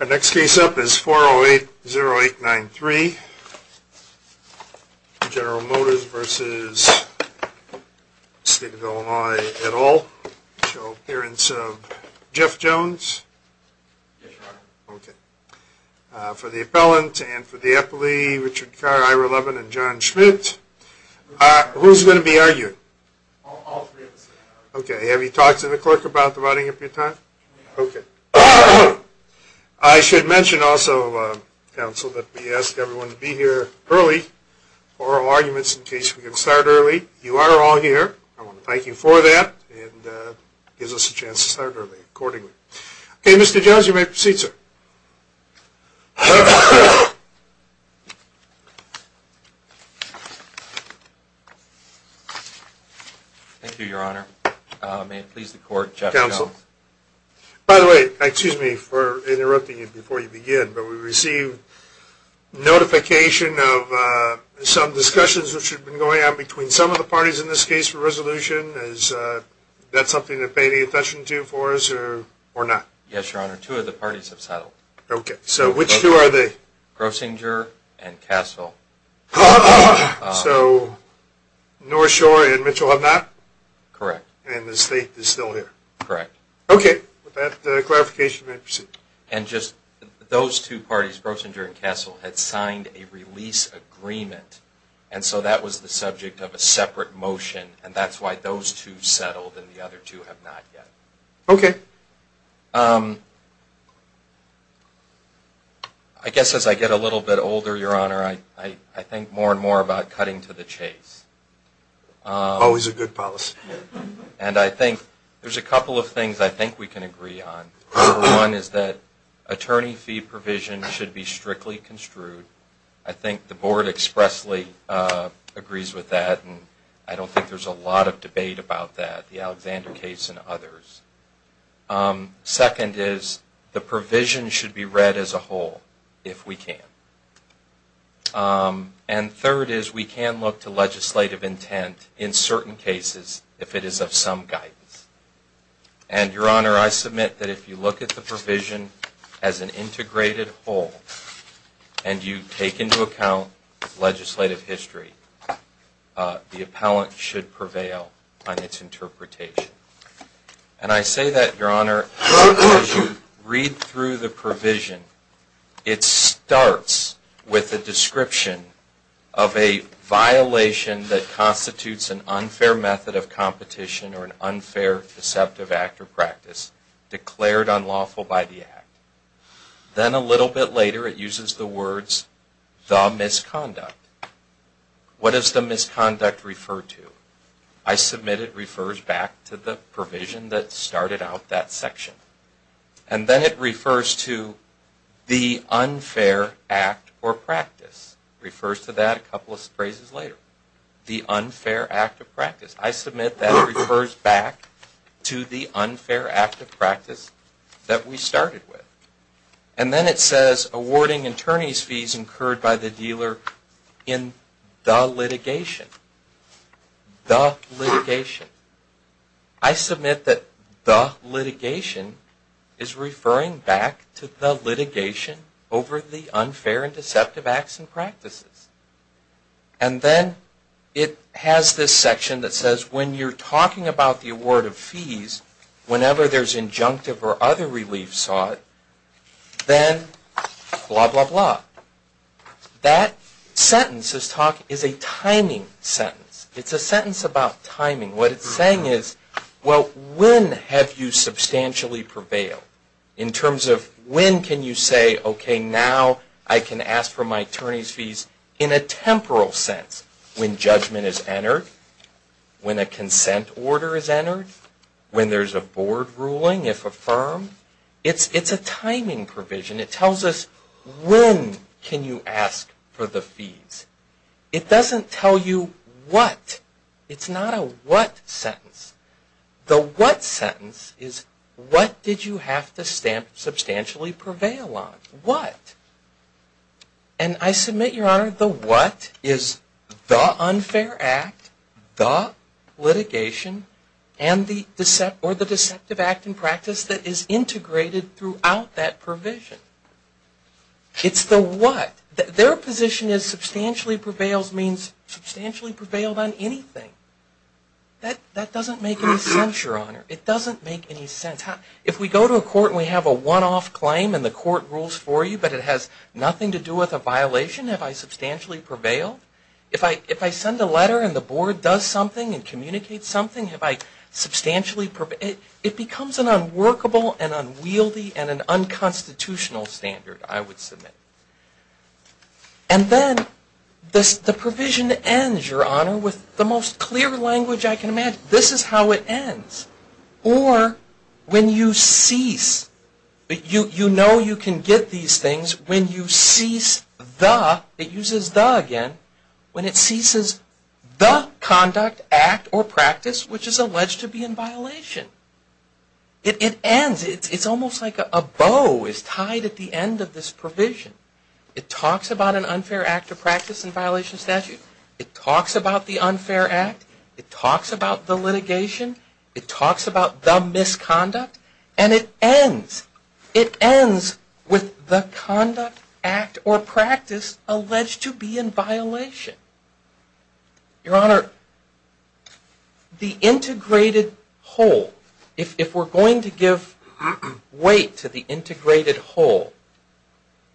Our next case up is 4080893, General Motors v. Stephen Delanoye, et al. Appearance of Jeff Jones. Yes, your honor. Okay. For the appellant and for the appellee, Richard Carr, Ira Levin, and John Schmidt. Who's going to be arguing? All three of us. Okay. Have you talked to the clerk about dividing up your time? Okay. I should mention also, counsel, that we ask everyone to be here early for oral arguments in case we can start early. You are all here. I want to thank you for that and it gives us a chance to start early accordingly. Okay, Mr. Jones, you may proceed, sir. Thank you, your honor. May it please the court, Jeff Jones. Counsel. By the way, excuse me for interrupting you before you begin, but we received notification of some discussions which have been going on between some of the parties in this case for resolution. Is that something to pay any attention to for us or not? Yes, your honor. Two of the parties have settled. Okay. So which two are they? Grossinger and Castle. So North Shore and Mitchell have not? Correct. And the state is still here? Correct. Okay. With that clarification, may I proceed? And just those two parties, Grossinger and Castle, had signed a release agreement and so that was the subject of a separate motion and that's why those two settled and the other two have not yet. Okay. I guess as I get a little bit older, your honor, I think more and more about cutting to the chase. Always a good policy. And I think there's a couple of things I think we can agree on. One is that attorney fee provision should be strictly construed. I think the board expressly agrees with that and I don't think there's a lot of debate about that, the Alexander case and others. Second is the provision should be read as a whole if we can. And third is we can look to legislative intent in certain cases if it is of some guidance. And your honor, I submit that if you look at the provision as an integrated whole and you take into account legislative history, the appellant should prevail on its interpretation. And I say that, your honor, as you read through the provision. It starts with a description of a violation that constitutes an unfair method of competition or an unfair deceptive act or practice declared unlawful by the act. Then a little bit later it uses the words, the misconduct. What does the misconduct refer to? I submit it refers back to the provision that started out that section. And then it refers to the unfair act or practice. It refers to that a couple of phrases later. The unfair act of practice. I submit that it refers back to the unfair act of practice that we started with. And then it says awarding attorney's fees incurred by the dealer in the litigation. The litigation. I submit that the litigation is referring back to the litigation over the unfair and deceptive acts and practices. And then it has this section that says when you're talking about the award of fees, whenever there's injunctive or other relief sought, then blah, blah, blah. That sentence is a timing sentence. It's a sentence about timing. What it's saying is, well, when have you substantially prevailed? In terms of when can you say, okay, now I can ask for my attorney's fees in a temporal sense. When judgment is entered. When a consent order is entered. When there's a board ruling, if affirmed. It's a timing provision. It tells us when can you ask for the fees. It doesn't tell you what. It's not a what sentence. The what sentence is what did you have to substantially prevail on? What? And I submit, Your Honor, the what is the unfair act, the litigation, and the deceptive act and practice that is integrated throughout that provision. It's the what. Their position is substantially prevails means substantially prevailed on anything. That doesn't make any sense, Your Honor. It doesn't make any sense. If we go to a court and we have a one-off claim and the court rules for you, but it has nothing to do with a violation, have I substantially prevailed? If I send a letter and the board does something and communicates something, have I substantially prevailed? It becomes an unworkable and unwieldy and an unconstitutional standard, I would submit. And then the provision ends, Your Honor, with the most clear language I can imagine. This is how it ends. Or when you cease. You know you can get these things when you cease the, it uses the again, when it ceases the conduct, act, or practice which is alleged to be in violation. It ends. It's almost like a bow is tied at the end of this provision. It talks about an unfair act of practice and violation of statute. It talks about the unfair act. It talks about the litigation. It talks about the misconduct. And it ends. It ends with the conduct, act, or practice alleged to be in violation. Your Honor, the integrated whole, if we're going to give weight to the integrated whole,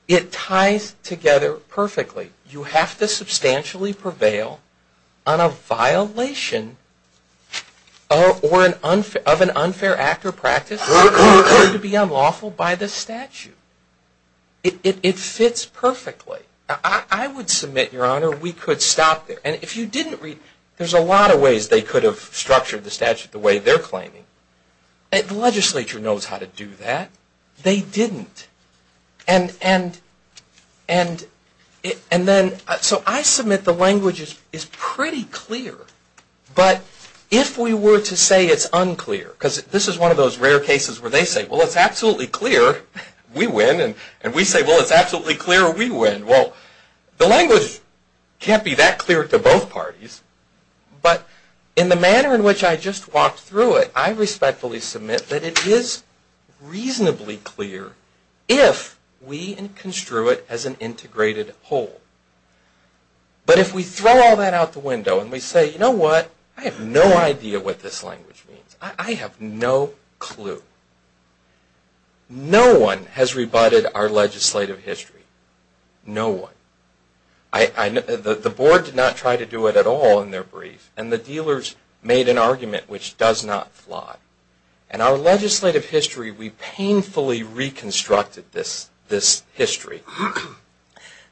it ties together perfectly. You have to substantially prevail on a violation of an unfair act or practice that would appear to be unlawful by the statute. It fits perfectly. I would submit, Your Honor, we could stop there. And if you didn't read, there's a lot of ways they could have structured the statute the way they're claiming. The legislature knows how to do that. They didn't. And then, so I submit the language is pretty clear. But if we were to say it's unclear, because this is one of those rare cases where they say, well, it's absolutely clear, we win. And we say, well, it's absolutely clear, we win. Well, the language can't be that clear to both parties. But in the manner in which I just walked through it, I respectfully submit that it is reasonably clear if we construe it as an integrated whole. But if we throw all that out the window and we say, you know what? I have no idea what this language means. I have no clue. No one has rebutted our legislative history. No one. The board did not try to do it at all in their brief, and the dealers made an argument which does not fly. And our legislative history, we painfully reconstructed this history.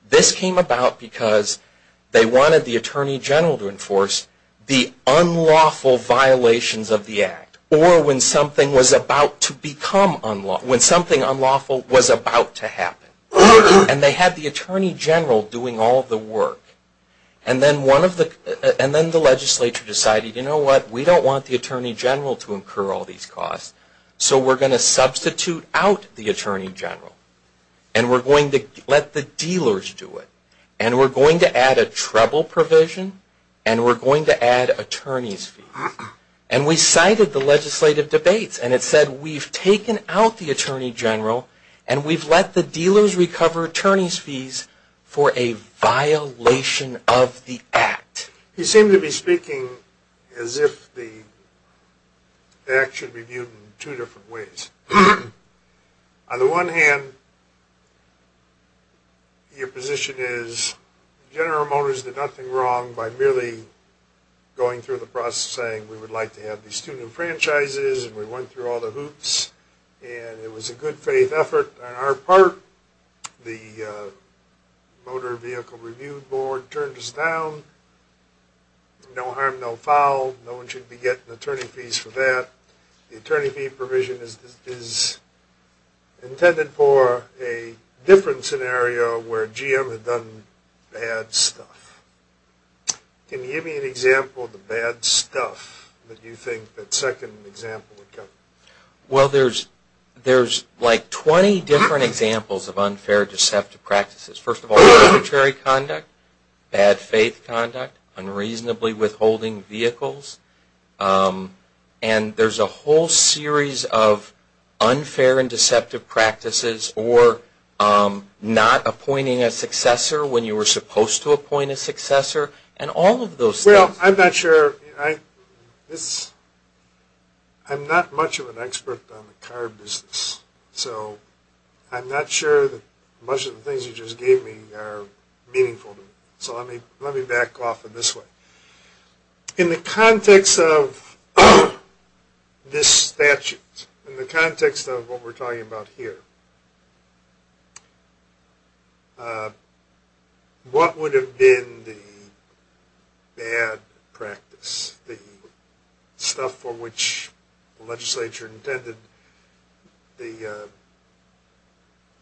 This came about because they wanted the Attorney General to enforce the unlawful violations of the Act or when something was about to become unlawful, when something unlawful was about to happen. And they had the Attorney General doing all of the work. And then the legislature decided, you know what? We don't want the Attorney General to incur all these costs, so we're going to substitute out the Attorney General. And we're going to let the dealers do it. And we're going to add a treble provision, and we're going to add attorney's fees. And we cited the legislative debates, and it said we've taken out the Attorney General and we've let the dealers recover attorney's fees for a violation of the Act. You seem to be speaking as if the Act should be viewed in two different ways. On the one hand, your position is General Motors did nothing wrong by merely going through the process saying we would like to have these two new franchises, and we went through all the hoops, and it was a good faith effort on our part. The Motor Vehicle Review Board turned us down. No harm, no foul. No one should be getting attorney fees for that. The attorney fee provision is intended for a different scenario where GM had done bad stuff. Can you give me an example of the bad stuff that you think that second example would cover? Well, there's like 20 different examples of unfair deceptive practices. First of all, arbitrary conduct, bad faith conduct, unreasonably withholding vehicles. And there's a whole series of unfair and deceptive practices, or not appointing a successor when you were supposed to appoint a successor, and all of those things. Well, I'm not sure. I'm not much of an expert on the car business, so I'm not sure that much of the things you just gave me are meaningful to me. So let me back off in this way. In the context of this statute, in the context of what we're talking about here, what would have been the bad practice, the stuff for which the legislature intended the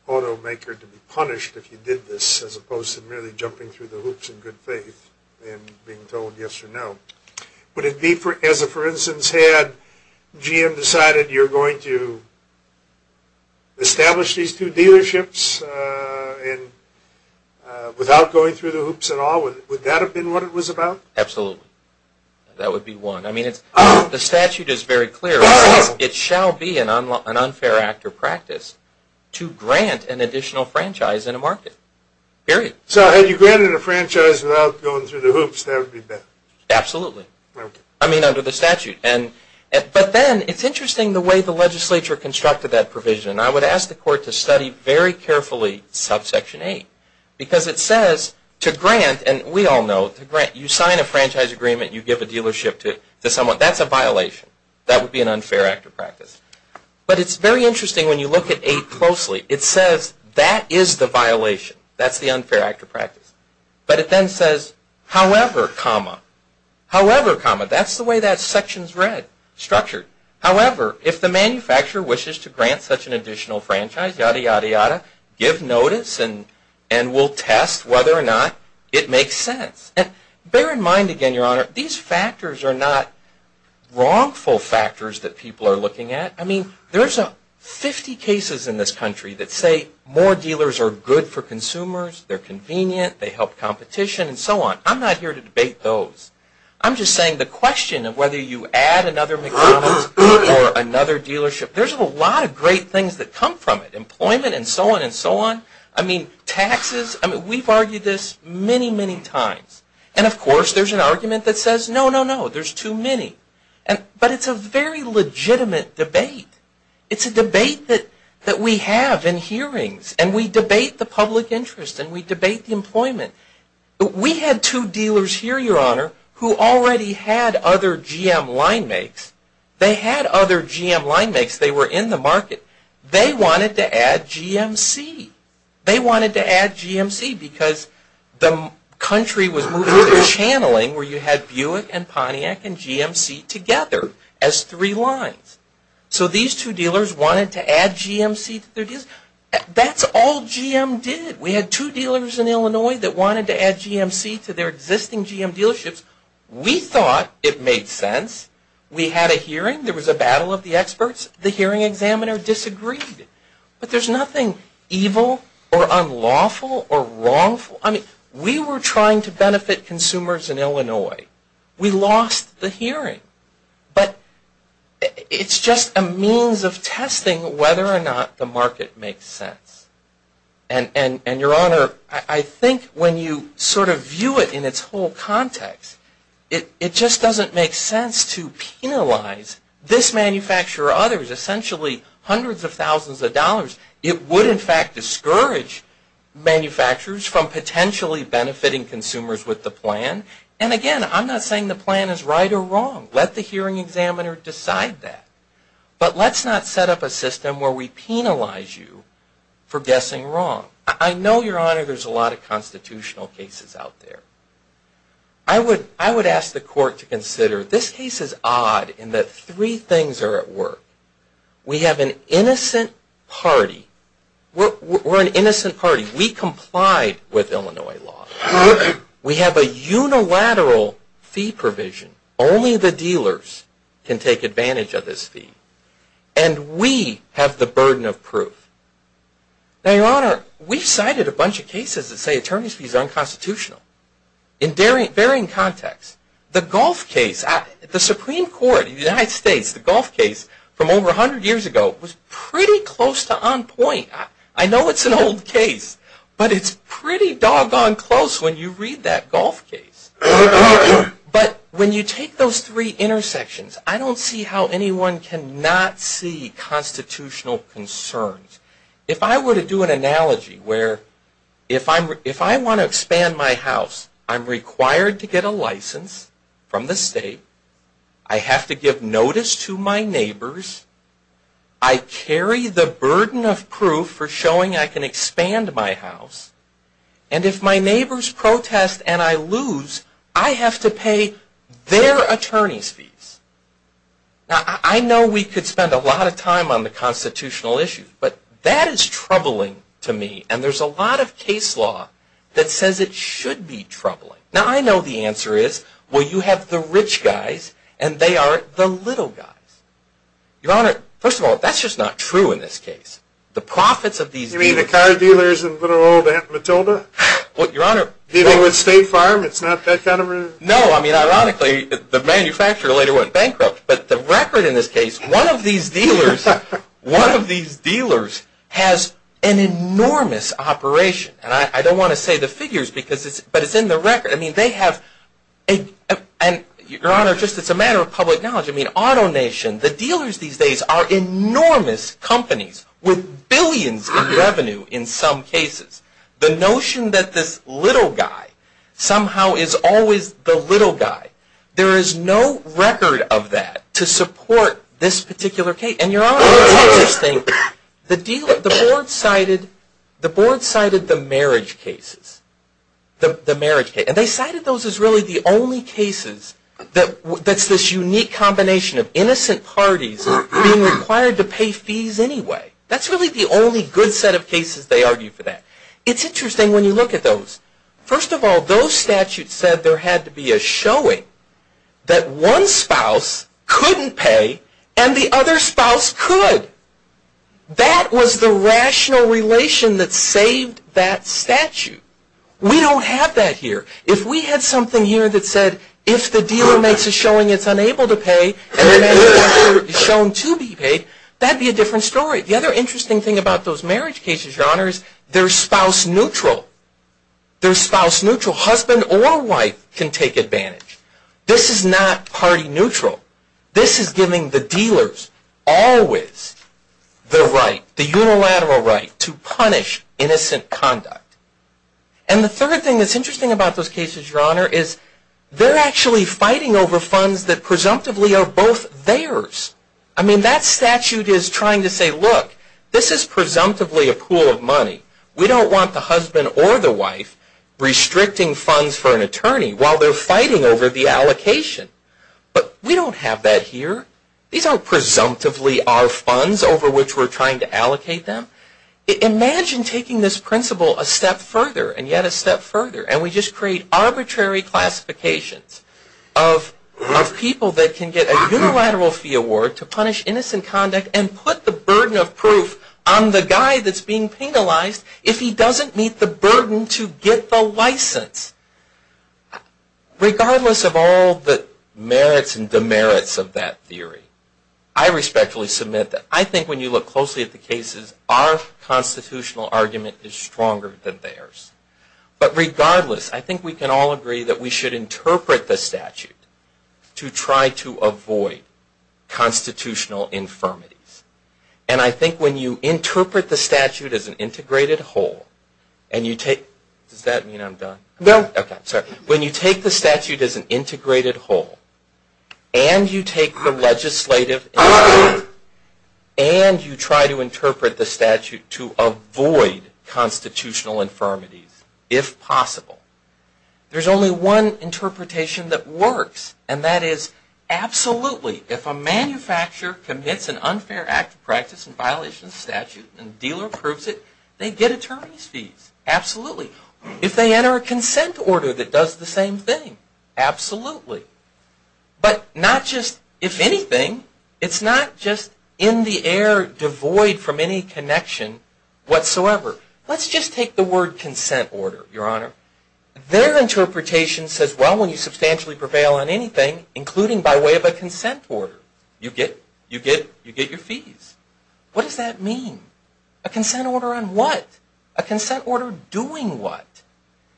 automaker to be punished if you did this, as opposed to merely jumping through the loops in good faith and being told yes or no? Would it be, for instance, had GM decided you're going to establish these two dealerships without going through the hoops at all, would that have been what it was about? Absolutely. That would be one. I mean, the statute is very clear. It says it shall be an unfair act or practice to grant an additional franchise in a market. Period. So had you granted a franchise without going through the hoops, that would be better. Absolutely. I mean, under the statute. But then it's interesting the way the legislature constructed that provision. I would ask the court to study very carefully subsection 8 because it says to grant, and we all know to grant, you sign a franchise agreement, you give a dealership to someone, that's a violation. That would be an unfair act or practice. But it's very interesting when you look at 8 closely. It says that is the violation. That's the unfair act or practice. But it then says, however, comma. However, comma. That's the way that section is read, structured. However, if the manufacturer wishes to grant such an additional franchise, yada, yada, yada, give notice and we'll test whether or not it makes sense. And bear in mind again, Your Honor, these factors are not wrongful factors that people are looking at. I mean, there's 50 cases in this country that say more dealers are good for them, they help competition and so on. I'm not here to debate those. I'm just saying the question of whether you add another McDonald's or another dealership, there's a lot of great things that come from it. Employment and so on and so on. I mean, taxes. I mean, we've argued this many, many times. And, of course, there's an argument that says no, no, no, there's too many. But it's a very legitimate debate. It's a debate that we have in hearings and we debate the public interest and we debate the employment. We had two dealers here, Your Honor, who already had other GM line makes. They had other GM line makes. They were in the market. They wanted to add GMC. They wanted to add GMC because the country was moving to channeling where you had Buick and Pontiac and GMC together as three lines. So these two dealers wanted to add GMC to their deals. That's all GM did. We had two dealers in Illinois that wanted to add GMC to their existing GM dealerships. We thought it made sense. We had a hearing. There was a battle of the experts. The hearing examiner disagreed. But there's nothing evil or unlawful or wrongful. I mean, we were trying to benefit consumers in Illinois. We lost the hearing. But it's just a means of testing whether or not the market makes sense. And, Your Honor, I think when you sort of view it in its whole context, it just doesn't make sense to penalize this manufacturer or others, essentially hundreds of thousands of dollars. It would, in fact, discourage manufacturers from potentially benefiting consumers with the plan. And, again, I'm not saying the plan is right or wrong. Let the hearing examiner decide that. But let's not set up a system where we penalize you for guessing wrong. I know, Your Honor, there's a lot of constitutional cases out there. I would ask the court to consider this case is odd in that three things are at work. We have an innocent party. We're an innocent party. We complied with Illinois law. We have a unilateral fee provision. Only the dealers can take advantage of this fee. And we have the burden of proof. Now, Your Honor, we've cited a bunch of cases that say attorney's fees are unconstitutional in varying contexts. The Gulf case, the Supreme Court of the United States, the Gulf case from over 100 years ago was pretty close to on point. I know it's an old case, but it's pretty doggone close when you read that Gulf case. But when you take those three intersections, I don't see how anyone cannot see constitutional concerns. If I were to do an analogy where if I want to expand my house, I'm required to get a license from the state. I have to give notice to my neighbors. I carry the burden of proof for showing I can expand my house. And if my neighbors protest and I lose, I have to pay their attorney's fees. Now, I know we could spend a lot of time on the constitutional issues, but that is troubling to me. And there's a lot of case law that says it should be troubling. Now, I know the answer is, well, you have the rich guys and they are the little guys. Your Honor, first of all, that's just not true in this case. The profits of these dealers. You mean the car dealers and little old Matilda? Your Honor. Dealing with State Farm. It's not that kind of a. No. I mean, ironically, the manufacturer later went bankrupt. But the record in this case, one of these dealers, one of these dealers has an enormous operation. And I don't want to say the figures, but it's in the record. I mean, they have. Your Honor, just as a matter of public knowledge, I mean, AutoNation, the dealers these days are enormous companies with billions in revenue in some cases. The notion that this little guy somehow is always the little guy. There is no record of that to support this particular case. And Your Honor, let me tell you this thing. The board cited the marriage cases. And they cited those as really the only cases that's this unique combination of innocent parties being required to pay fees anyway. That's really the only good set of cases they argue for that. It's interesting when you look at those. First of all, those statutes said there had to be a showing that one spouse couldn't pay and the other spouse could. That was the rational relation that saved that statute. We don't have that here. If we had something here that said, if the dealer makes a showing it's unable to pay and the man is shown to be paid, that would be a different story. The other interesting thing about those marriage cases, Your Honor, is they're spouse neutral. They're spouse neutral. Husband or wife can take advantage. This is not party neutral. This is giving the dealers always the right, the unilateral right, And the third thing that's interesting about those cases, Your Honor, is they're actually fighting over funds that presumptively are both theirs. I mean, that statute is trying to say, look, this is presumptively a pool of money. We don't want the husband or the wife restricting funds for an attorney while they're fighting over the allocation. But we don't have that here. These aren't presumptively our funds over which we're trying to allocate them. Imagine taking this principle a step further and yet a step further and we just create arbitrary classifications of people that can get a unilateral fee award to punish innocent conduct and put the burden of proof on the guy that's being penalized if he doesn't meet the burden to get the license. Regardless of all the merits and demerits of that theory, I respectfully submit that I think when you look closely at the cases, our constitutional argument is stronger than theirs. But regardless, I think we can all agree that we should interpret the statute to try to avoid constitutional infirmities. And I think when you interpret the statute as an integrated whole, does that mean I'm done? No. Okay, sorry. When you take the statute as an integrated whole and you take the legislative and you try to interpret the statute to avoid constitutional infirmities, if possible, there's only one interpretation that works and that is absolutely. If a manufacturer commits an unfair act of practice in violation of statute and the dealer approves it, they get attorney's fees. Absolutely. If they enter a consent order that does the same thing, absolutely. But not just if anything, it's not just in the air, devoid from any connection whatsoever. Let's just take the word consent order, Your Honor. Their interpretation says, well, when you substantially prevail on anything, including by way of a consent order, you get your fees. What does that mean? A consent order on what? A consent order doing what?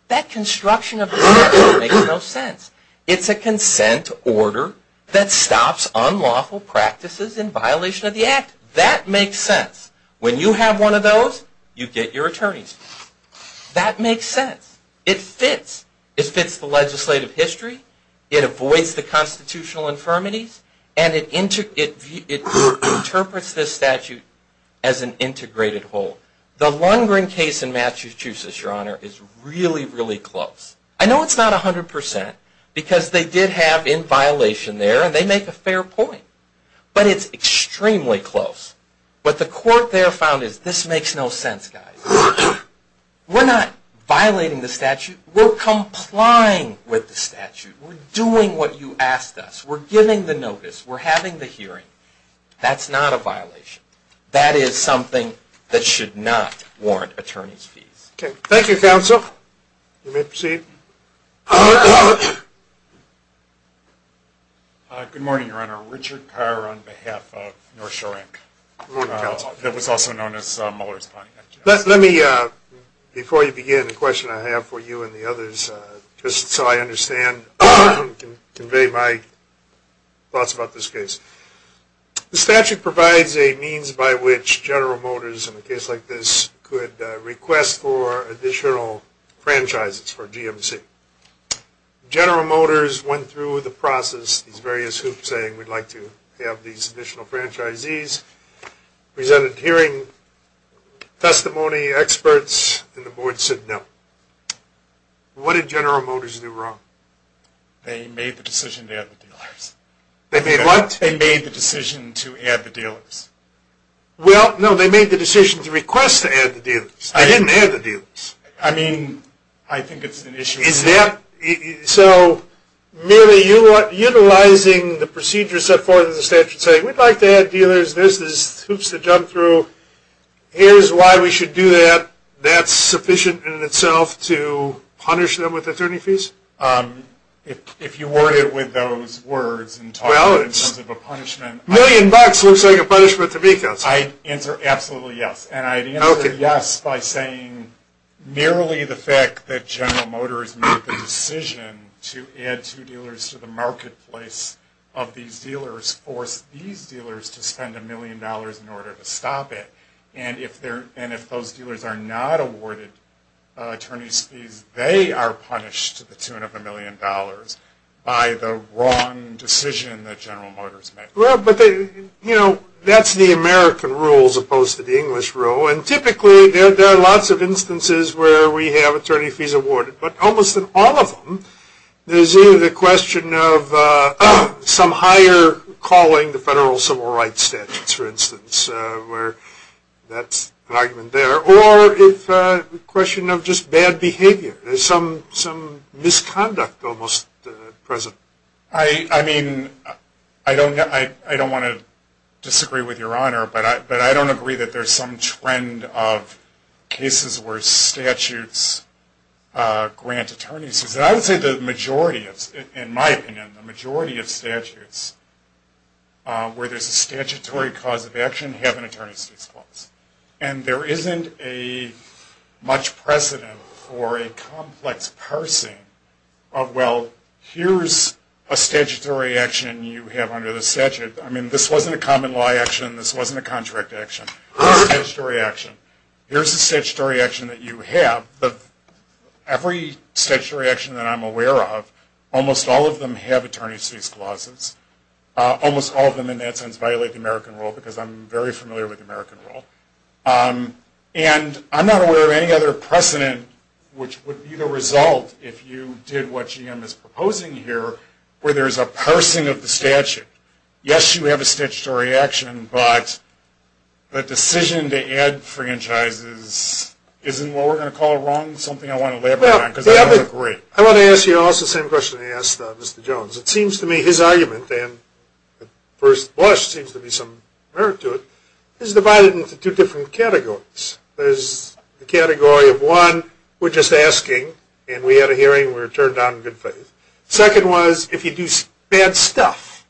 That construction of the order makes no sense. It's a consent order that stops unlawful practices in violation of the act. That makes sense. When you have one of those, you get your attorney's fees. That makes sense. It fits. It fits the legislative history. It avoids the constitutional infirmities, and it interprets this statute as an integrated whole. The Lundgren case in Massachusetts, Your Honor, is really, really close. I know it's not 100% because they did have in violation there, and they make a fair point. But it's extremely close. What the court there found is this makes no sense, guys. We're not violating the statute. We're complying with the statute. We're doing what you asked us. We're giving the notice. We're having the hearing. That's not a violation. That is something that should not warrant attorney's fees. Okay. Thank you, counsel. You may proceed. Good morning, Your Honor. Richard Carr on behalf of North Shore Inc. Good morning, counsel. That was also known as Mueller's Pontiac. Let me, before you begin, a question I have for you and the others, just so I understand and convey my thoughts about this case. The statute provides a means by which General Motors, in a case like this, could request for additional franchises for GMC. General Motors went through the process, these various hoops, saying we'd like to have these additional franchisees, presented hearing, testimony, experts, and the board said no. What did General Motors do wrong? They made the decision to add the dealers. They made what? They made the decision to add the dealers. Well, no, they made the decision to request to add the dealers. They didn't add the dealers. I mean, I think it's an issue. So, merely utilizing the procedures set forth in the statute saying, we'd like to add dealers, there's these hoops to jump through, here's why we should do that, that's sufficient in itself to punish them with attorney fees? If you word it with those words and talk about it in terms of a punishment. Million bucks looks like a punishment to me. I'd answer absolutely yes. And I'd answer yes by saying, merely the fact that General Motors made the decision to add two dealers to the marketplace of these dealers forced these dealers to spend a million dollars in order to stop it. And if those dealers are not awarded attorney fees, they are punished to the tune of a million dollars by the wrong decision that they made. You know, that's the American rule as opposed to the English rule. And typically, there are lots of instances where we have attorney fees awarded. But almost in all of them, there's either the question of some higher calling the federal civil rights statutes, for instance, where that's an argument there. Or it's a question of just bad behavior. There's some misconduct almost present. I mean, I don't want to disagree with Your Honor, but I don't agree that there's some trend of cases where statutes grant attorney fees. I would say the majority, in my opinion, the majority of statutes where there's a statutory cause of action have an attorney fees clause. And there isn't a much precedent for a complex parsing of, well, here's a statutory action you have under the statute. I mean, this wasn't a common law action. This wasn't a contract action. It was a statutory action. Here's a statutory action that you have. Every statutory action that I'm aware of, almost all of them have attorney fees clauses. Almost all of them in that sense violate the American rule because I'm very familiar with the American rule. And I'm not aware of any other precedent which would be the result if you did what GM is proposing here where there's a parsing of the statute. Yes, you have a statutory action, but the decision to add franchises isn't what we're going to call wrong, something I want to elaborate on because I don't agree. I want to ask you also the same question I asked Mr. Jones. It seems to me his argument, and at first blush there seems to be some merit to it, is divided into two different categories. There's the category of one, we're just asking, and we had a hearing and we were turned down in good faith. Second was if you do bad stuff.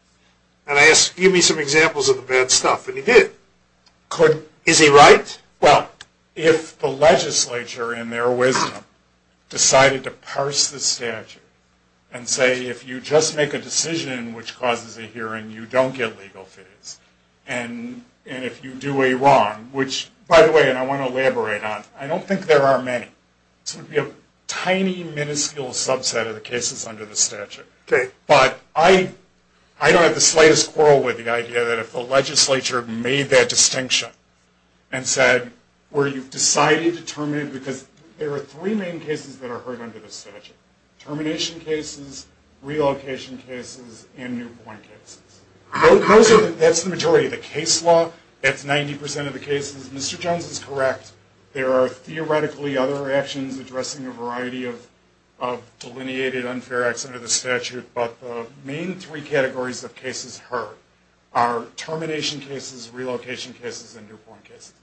And I asked, give me some examples of the bad stuff, and he did. Is he right? Well, if the legislature in their wisdom decided to parse the statute and say if you just make a decision which causes a hearing, you don't get legal fees, and if you do a wrong, which, by the way, and I want to elaborate on, I don't think there are many. There would be a tiny minuscule subset of the cases under the statute. Okay. But I don't have the slightest quarrel with the idea that if the legislature made that distinction and said where you've decided to terminate, because there are three main cases that are heard under the statute, termination cases, relocation cases, and new-born cases. Those are the majority of the case law. That's 90% of the cases. Mr. Jones is correct. There are theoretically other actions addressing a variety of delineated unfair acts under the statute, but the main three categories of cases heard are termination cases, relocation cases, and new-born cases.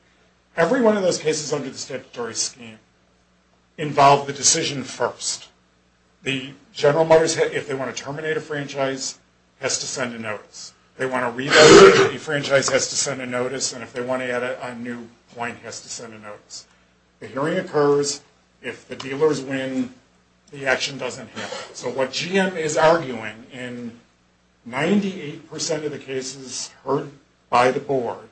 Every one of those cases under the statutory scheme involved the decision first. The General Motors, if they want to terminate a franchise, has to send a notice. They want to relocate, the franchise has to send a notice, and if they want to add a new point, has to send a notice. The hearing occurs. If the dealers win, the action doesn't happen. So what GM is arguing, in 98% of the cases heard by the board,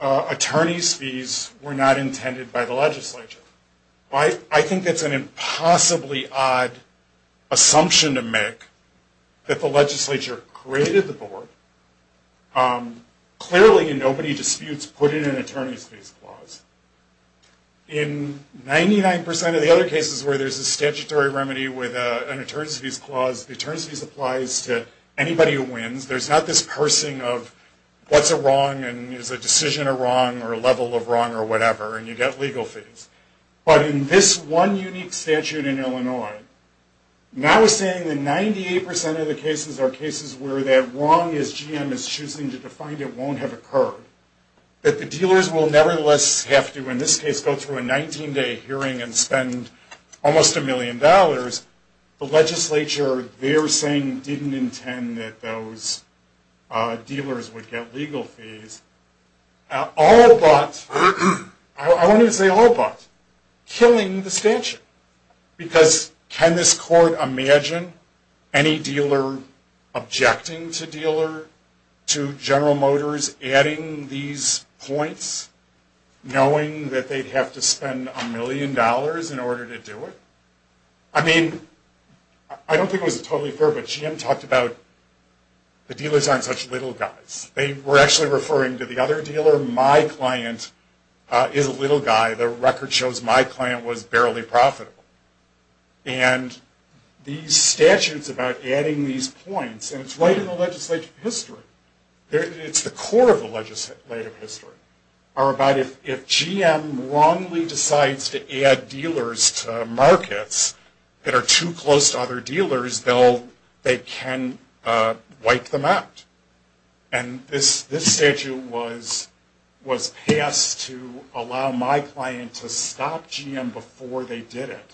attorney's fees were not intended by the legislature. I think that's an impossibly odd assumption to make, that the legislature created the board. Clearly, in nobody disputes, put in an attorney's fees clause. In 99% of the other cases where there's a statutory remedy with an attorney's fees clause, the attorney's fees applies to anybody who wins. There's not this parsing of what's a wrong and is a decision a wrong or a level of wrong or whatever, and you get legal fees. But in this one unique statute in Illinois, now saying that 98% of the cases are cases where that wrong, as GM is choosing to define it, won't have occurred, that the dealers will nevertheless have to, in this case, go through a 19-day hearing and spend almost a million dollars, the legislature, they're saying, didn't intend that those dealers would get legal fees. All but, I wanted to say all but, killing the statute. Because can this court imagine any dealer objecting to dealer, to General Motors adding these points, knowing that they'd have to spend a million dollars in order to do it? I mean, I don't think it was totally fair, but GM talked about the dealers aren't such little guys. They were actually referring to the other dealer. My client is a little guy. The record shows my client was barely profitable. And these statutes about adding these points, and it's right in the legislative history. It's the core of the legislative history. If GM wrongly decides to add dealers to markets that are too close to other dealers, they can wipe them out. And this statute was passed to allow my client to stop GM before they did it,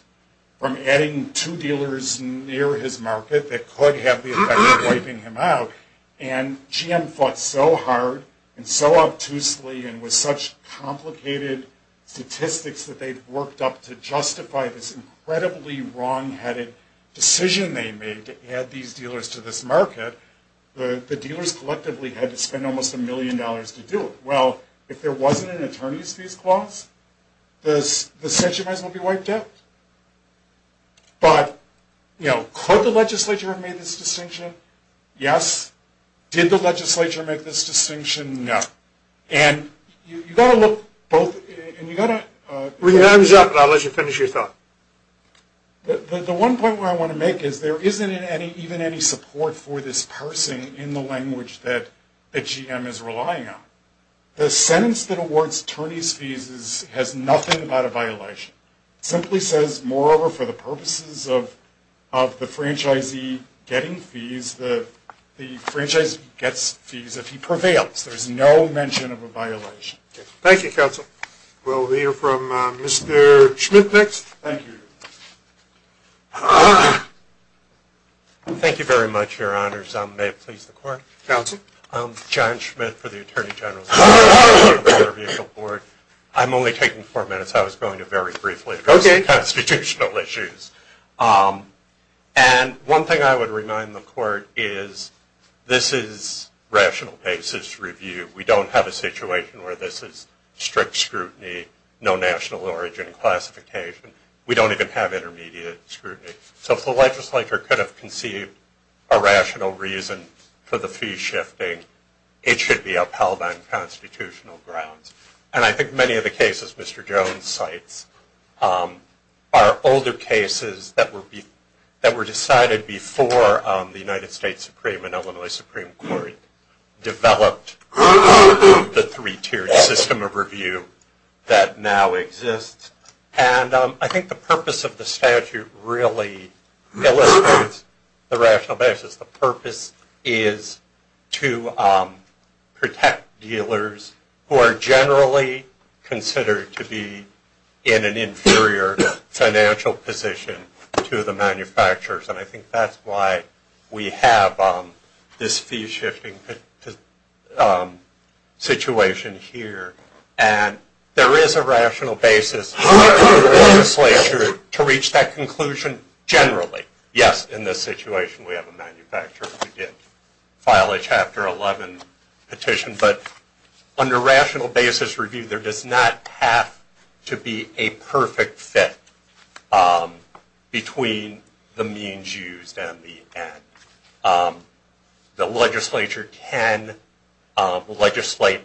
from adding two dealers near his market that could have the effect of wiping him out. And GM fought so hard and so obtusely and with such complicated statistics that they'd worked up to justify this incredibly wrongheaded decision they made to add these dealers to this market. But the dealers collectively had to spend almost a million dollars to do it. Well, if there wasn't an attorney's fees clause, the section might as well be wiped out. But, you know, could the legislature have made this distinction? Yes. Did the legislature make this distinction? No. And you've got to look both – and you've got to – Bring your hands up and I'll let you finish your thought. The one point where I want to make is there isn't even any support for this parsing in the language that GM is relying on. The sentence that awards attorney's fees has nothing about a violation. It simply says, moreover, for the purposes of the franchisee getting fees, the franchisee gets fees if he prevails. There's no mention of a violation. Thank you, counsel. All right. We'll hear from Mr. Schmidt next. Thank you. Thank you very much, Your Honors. May it please the Court. Counsel. John Schmidt for the Attorney General's Office of the Motor Vehicle Board. I'm only taking four minutes. I was going to very briefly address the constitutional issues. And one thing I would remind the Court is this is rational basis review. We don't have a situation where this is strict scrutiny, no national origin classification. We don't even have intermediate scrutiny. So if the legislator could have conceived a rational reason for the fee shifting, it should be upheld on constitutional grounds. And I think many of the cases Mr. Jones cites are older cases that were decided before the United States Supreme and Illinois Supreme Court developed the three-tiered system of review that now exists. And I think the purpose of the statute really illustrates the rational basis. The purpose is to protect dealers who are generally considered to be in an inferior financial position to the manufacturers. And I think that's why we have this fee shifting situation here. And there is a rational basis for the legislature to reach that conclusion generally. Yes, in this situation we have a manufacturer who did file a Chapter 11 petition. But under rational basis review, there does not have to be a perfect fit between the means used and the end. The legislature can legislate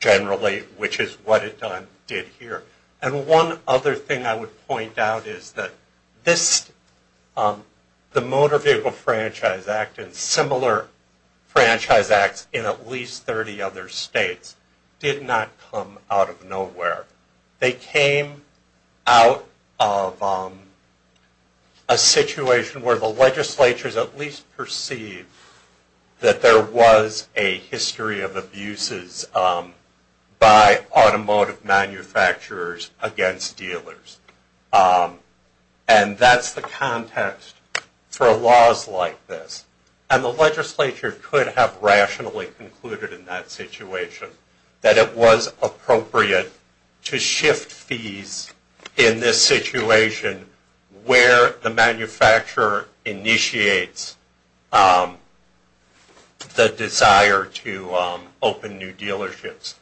generally, which is what it did here. And one other thing I would point out is that the Motor Vehicle Franchise Act and similar franchise acts in at least 30 other states did not come out of nowhere. They came out of a situation where the legislatures at least perceived that there was a history of abuses by automotive manufacturers against dealers. And that's the context for laws like this. And the legislature could have rationally concluded in that situation that it was appropriate to shift fees in this situation where the manufacturer initiates the desire to open new dealerships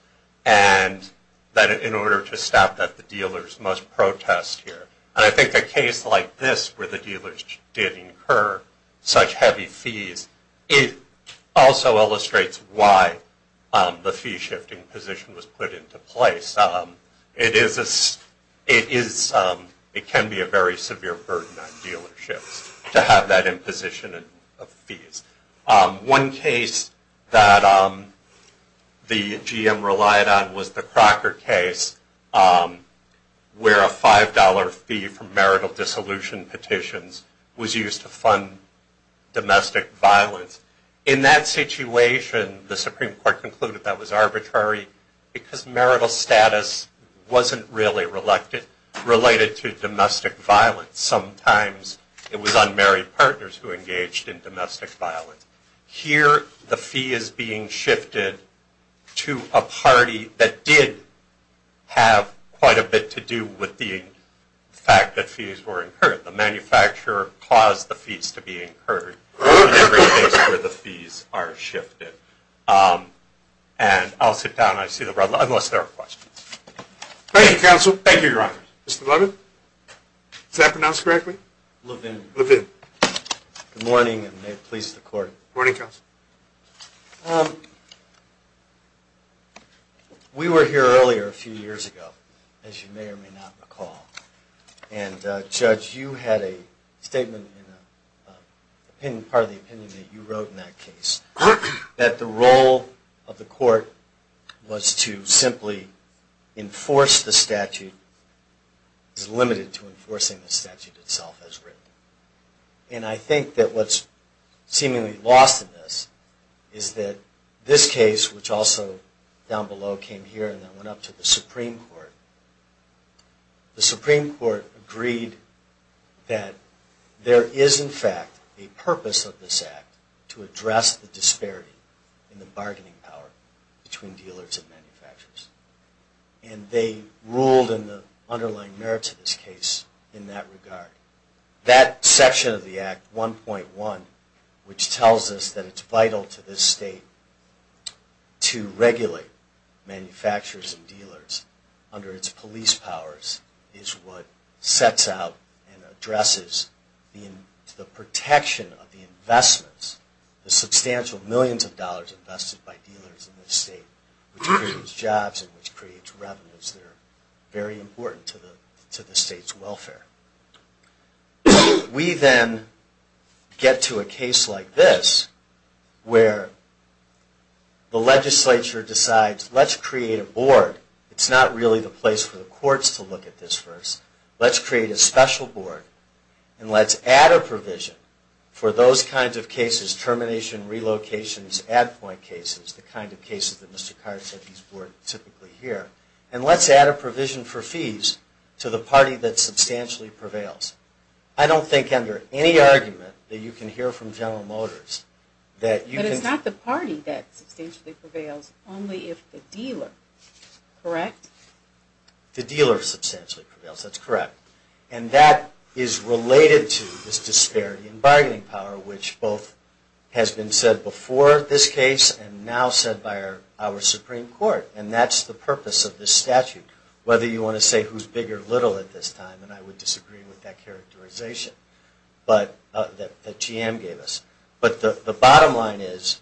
and that in order to stop that the dealers must protest here. And I think a case like this where the dealers did incur such heavy fees, it also illustrates why the fee shifting position was put into place. It can be a very severe burden on dealerships to have that imposition of fees. One case that the GM relied on was the Crocker case where a $5 fee for marital dissolution petitions was used to fund domestic violence. In that situation the Supreme Court concluded that was arbitrary because marital status wasn't really related to domestic violence. Sometimes it was unmarried partners who engaged in domestic violence. Here the fee is being shifted to a party that did have quite a bit to do with the fact that fees were incurred. The manufacturer caused the fees to be incurred in every case where the fees are shifted. And I'll sit down. I see the red light, unless there are questions. Thank you, counsel. Thank you, Your Honor. Mr. Levin? Is that pronounced correctly? Levin. Levin. Good morning, and may it please the Court. Good morning, counsel. We were here earlier a few years ago, as you may or may not recall. And, Judge, you had a statement in part of the opinion that you wrote in that case that the role of the Court was to simply enforce the statute is limited to enforcing the statute itself as written. And I think that what's seemingly lost in this is that this case, which also down below came here and then went up to the Supreme Court, the Supreme Court agreed that there is, in fact, a purpose of this Act to address the disparity in the bargaining power between dealers and manufacturers. And they ruled in the underlying merits of this case in that regard. That section of the Act, 1.1, which tells us that it's vital to this State to regulate manufacturers and dealers under its police powers is what sets out and addresses the protection of the investments, the substantial millions of dollars invested by dealers in this State, which creates jobs and which creates revenues that are very important to the State's welfare. We then get to a case like this where the Legislature decides, let's create a board. It's not really the place for the courts to look at this first. Let's create a special board and let's add a provision for those kinds of cases, termination, relocations, ad point cases, the kind of cases that Mr. Carr said these were typically here. And let's add a provision for fees to the party that substantially prevails. I don't think under any argument that you can hear from General Motors that you can... But it's not the party that substantially prevails, only if the dealer, correct? The dealer substantially prevails, that's correct. And that is related to this disparity in bargaining power, which both has been said before this Supreme Court, and that's the purpose of this statute. Whether you want to say who's big or little at this time, and I would disagree with that characterization that GM gave us. But the bottom line is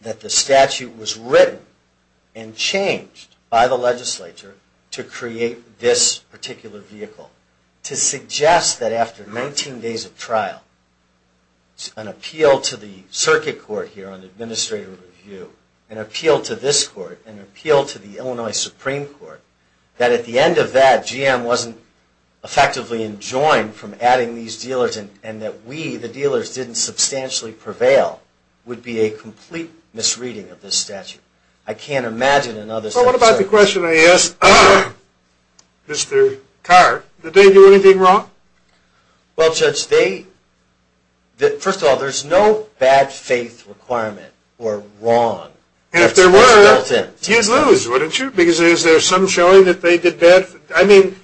that the statute was written and changed by the Legislature to create this particular vehicle to suggest that after 19 days of trial, an appeal to the Illinois Supreme Court, that at the end of that GM wasn't effectively enjoined from adding these dealers and that we, the dealers, didn't substantially prevail, would be a complete misreading of this statute. I can't imagine another statute... Well, what about the question I asked Mr. Carr? Did they do anything wrong? Well, Judge, they... First of all, there's no bad faith requirement or wrong. And if there were, you'd lose, wouldn't you? Because there's some showing that they did bad... I mean,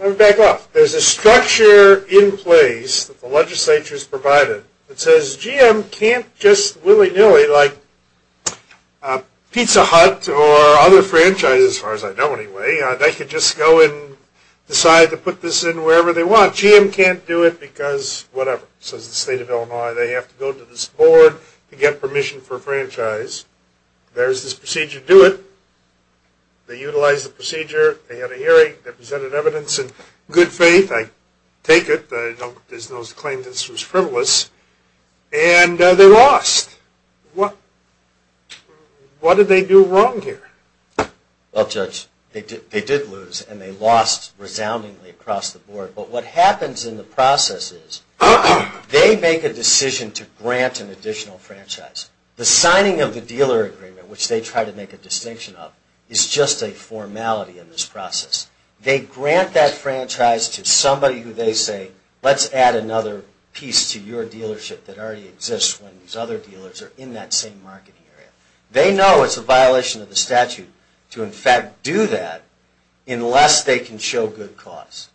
let me back up. There's a structure in place that the Legislature's provided that says GM can't just willy-nilly like Pizza Hut or other franchises, as far as I know anyway, they could just go and decide to put this in wherever they want. GM can't do it because whatever, says the State of Illinois, they have to go to this franchise. There's this procedure to do it. They utilize the procedure. They had a hearing. They presented evidence in good faith. I take it. There's no claim this was frivolous. And they lost. What did they do wrong here? Well, Judge, they did lose and they lost resoundingly across the board. But what happens in the process is they make a decision to grant an additional franchise. The signing of the dealer agreement, which they try to make a distinction of, is just a formality in this process. They grant that franchise to somebody who they say, let's add another piece to your dealership that already exists when these other dealers are in that same marketing area. They know it's a violation of the statute to in fact do that unless they can show good cause.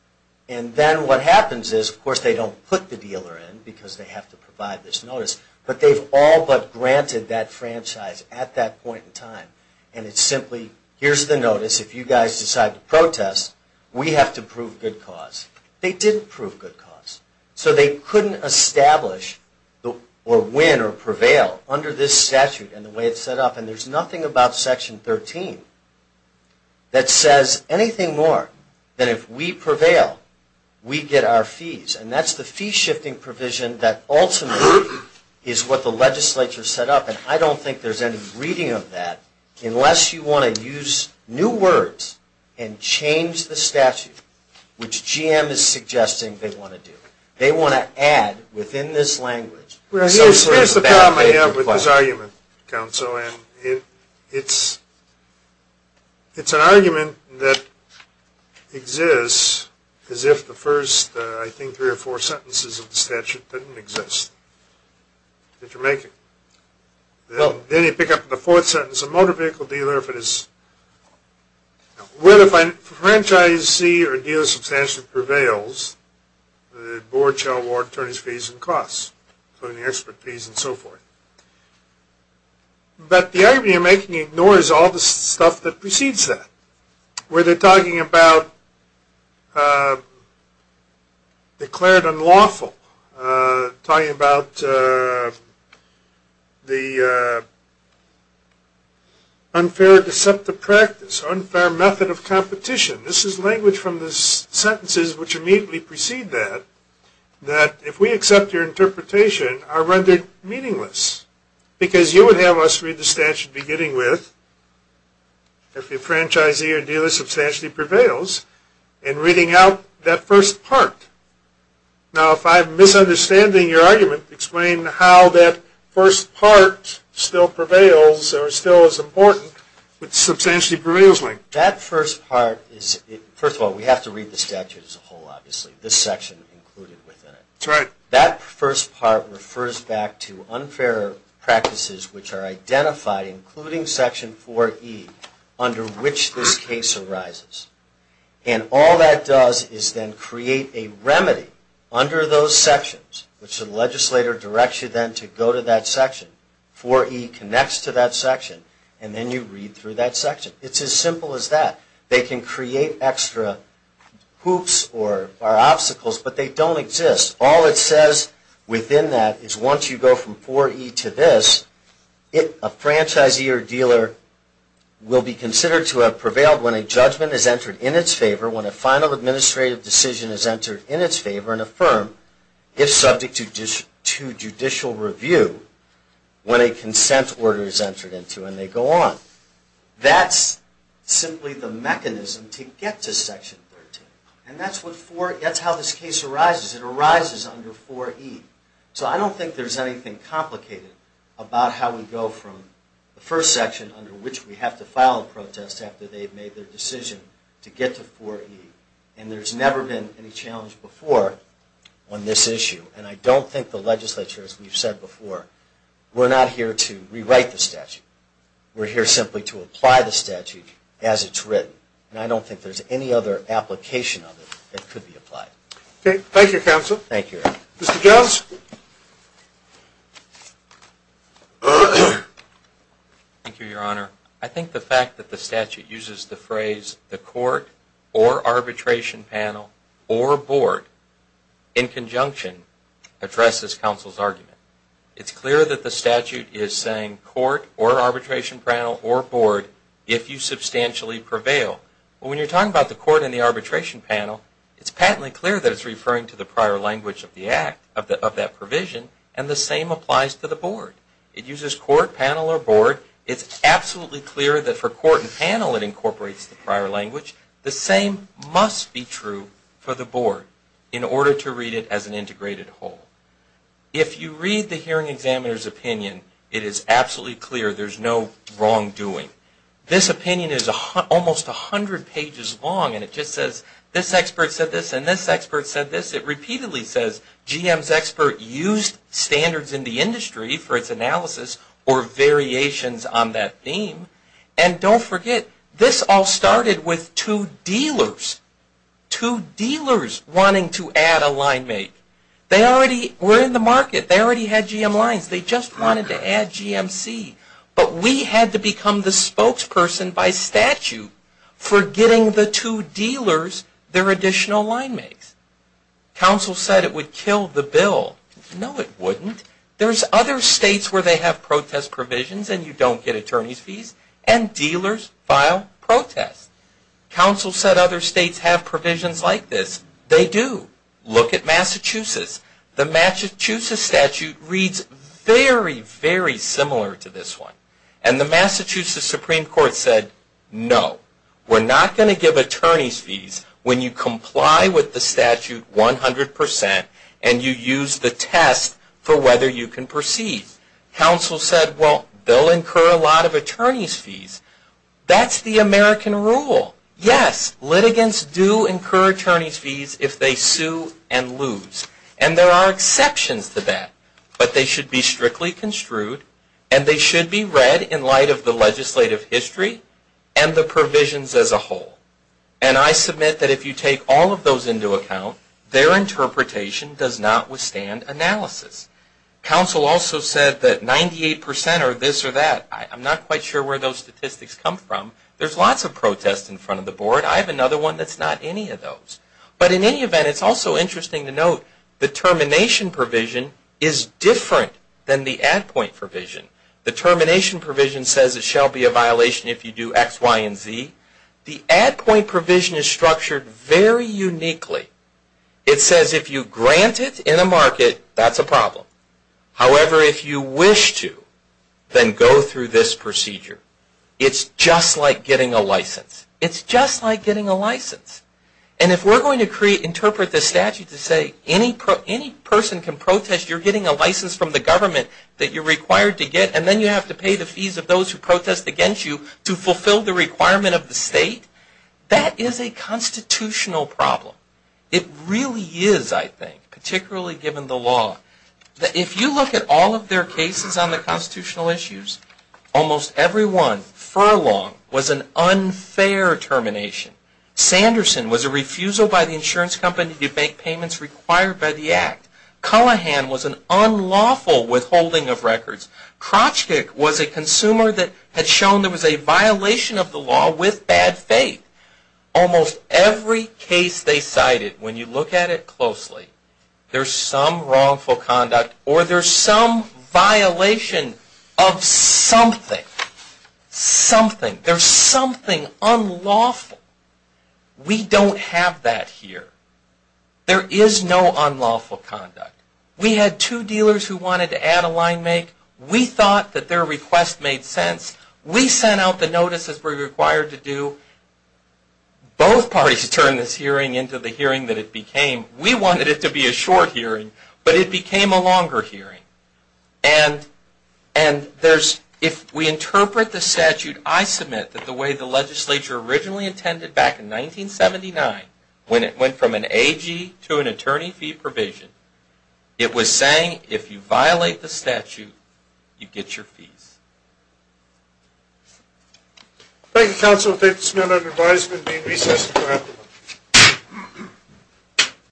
And then what happens is, of course, they don't put the dealer in because they have to provide this notice. But they've all but granted that franchise at that point in time. And it's simply, here's the notice. If you guys decide to protest, we have to prove good cause. They didn't prove good cause. So they couldn't establish or win or prevail under this statute and the way it's set up. And there's nothing about Section 13 that says anything more than if we prevail, we get our fees. And that's the fee shifting provision that ultimately is what the legislature set up. And I don't think there's any reading of that unless you want to use new words and change the statute, which GM is suggesting they want to do. Well, here's the problem I have with this argument, counsel. And it's an argument that exists as if the first, I think, three or four sentences of the statute didn't exist that you're making. Then you pick up the fourth sentence. A motor vehicle dealer, if it is where the franchisee or dealer substantially prevails, the board shall warrant attorneys' fees and costs. So the expert fees and so forth. But the argument you're making ignores all the stuff that precedes that, where they're talking about declared unlawful, talking about the unfair deceptive practice, unfair method of competition. This is language from the sentences which immediately precede that, that if we accept your interpretation, are rendered meaningless. Because you would have us read the statute beginning with, if the franchisee or dealer substantially prevails, and reading out that first part. Now, if I'm misunderstanding your argument, explain how that first part still prevails or still is important with the substantially prevails link. That first part is, first of all, we have to read the statute as a whole, obviously. This section included within it. That first part refers back to unfair practices which are identified, including Section 4E, under which this case arises. And all that does is then create a remedy under those sections, which the legislator directs you then to go to that section. 4E connects to that section, and then you read through that section. It's as simple as that. They can create extra hoops or obstacles, but they don't exist. All it says within that is once you go from 4E to this, a franchisee or dealer will be considered to have prevailed when a judgment is entered in its favor, when a final administrative decision is entered in its favor and affirmed, if subject to judicial review, when a consent order is entered into, and they go on. That's simply the mechanism to get to Section 13. And that's how this case arises. It arises under 4E. So I don't think there's anything complicated about how we go from the first section, under which we have to file a protest after they've made their decision, to get to 4E. And there's never been any challenge before on this issue. And I don't think the legislature, as we've said before, we're not here to rewrite the statute. We're here simply to apply the statute as it's written. And I don't think there's any other application of it that could be applied. Okay. Thank you, Counsel. Thank you. Mr. Jones? Thank you, Your Honor. I think the fact that the statute uses the phrase the court or arbitration panel or board in conjunction addresses Counsel's argument. It's clear that the statute is saying court or arbitration panel or board if you substantially prevail. But when you're talking about the court and the arbitration panel, it's patently clear that it's referring to the prior language of that provision, and the same applies to the board. It uses court, panel, or board. It's absolutely clear that for court and panel it incorporates the prior language. The same must be true for the board in order to read it as an integrated whole. If you read the hearing examiner's opinion, it is absolutely clear there's no wrongdoing. This opinion is almost 100 pages long, and it just says this expert said this and this expert said this. It repeatedly says GM's expert used standards in the industry for its analysis or variations on that theme. And don't forget, this all started with two dealers, two dealers wanting to add a line mate. They already were in the market. They already had GM lines. They just wanted to add GMC. But we had to become the spokesperson by statute for getting the two dealers their additional line mates. Counsel said it would kill the bill. No, it wouldn't. There's other states where they have protest provisions and you don't get attorney's fees, and dealers file protests. Counsel said other states have provisions like this. They do. Look at Massachusetts. The Massachusetts statute reads very, very similar to this one. And the Massachusetts Supreme Court said, no, we're not going to give attorney's fees when you comply with the statute 100% and you use the test for whether you can proceed. Counsel said, well, they'll incur a lot of attorney's fees. That's the American rule. Yes, litigants do incur attorney's fees if they sue and lose. And there are exceptions to that. But they should be strictly construed and they should be read in light of the legislative history and the provisions as a whole. And I submit that if you take all of those into account, their interpretation does not withstand analysis. Counsel also said that 98% are this or that. I'm not quite sure where those statistics come from. There's lots of protests in front of the board. I have another one that's not any of those. But in any event, it's also interesting to note the termination provision is different than the at-point provision. The termination provision says it shall be a violation if you do X, Y, and Z. The at-point provision is structured very uniquely. It says if you grant it in a market, that's a problem. However, if you wish to, then go through this procedure. It's just like getting a license. It's just like getting a license. And if we're going to interpret the statute to say any person can protest, you're getting a license from the government that you're required to get, and then you have to pay the fees of those who protest against you to fulfill the requirement of the state, that is a constitutional problem. It really is, I think, particularly given the law. If you look at all of their cases on the constitutional issues, almost every one, Furlong, was an unfair termination. Sanderson was a refusal by the insurance company to make payments required by the Act. Cullohan was an unlawful withholding of records. Krochkik was a consumer that had shown there was a violation of the law with bad faith. Almost every case they cited, when you look at it closely, there's some wrongful conduct or there's some violation of something. Something. There's something unlawful. We don't have that here. There is no unlawful conduct. We had two dealers who wanted to add a line make. We thought that their request made sense. We sent out the notices we were required to do. Both parties turned this hearing into the hearing that it became. We wanted it to be a short hearing, but it became a longer hearing. And if we interpret the statute I submit that the way the legislature originally intended back in 1979, when it went from an AG to an attorney fee provision, it was saying if you violate the statute, you get your fees. Thank you, counsel. I take this minute of advisement in being recessed.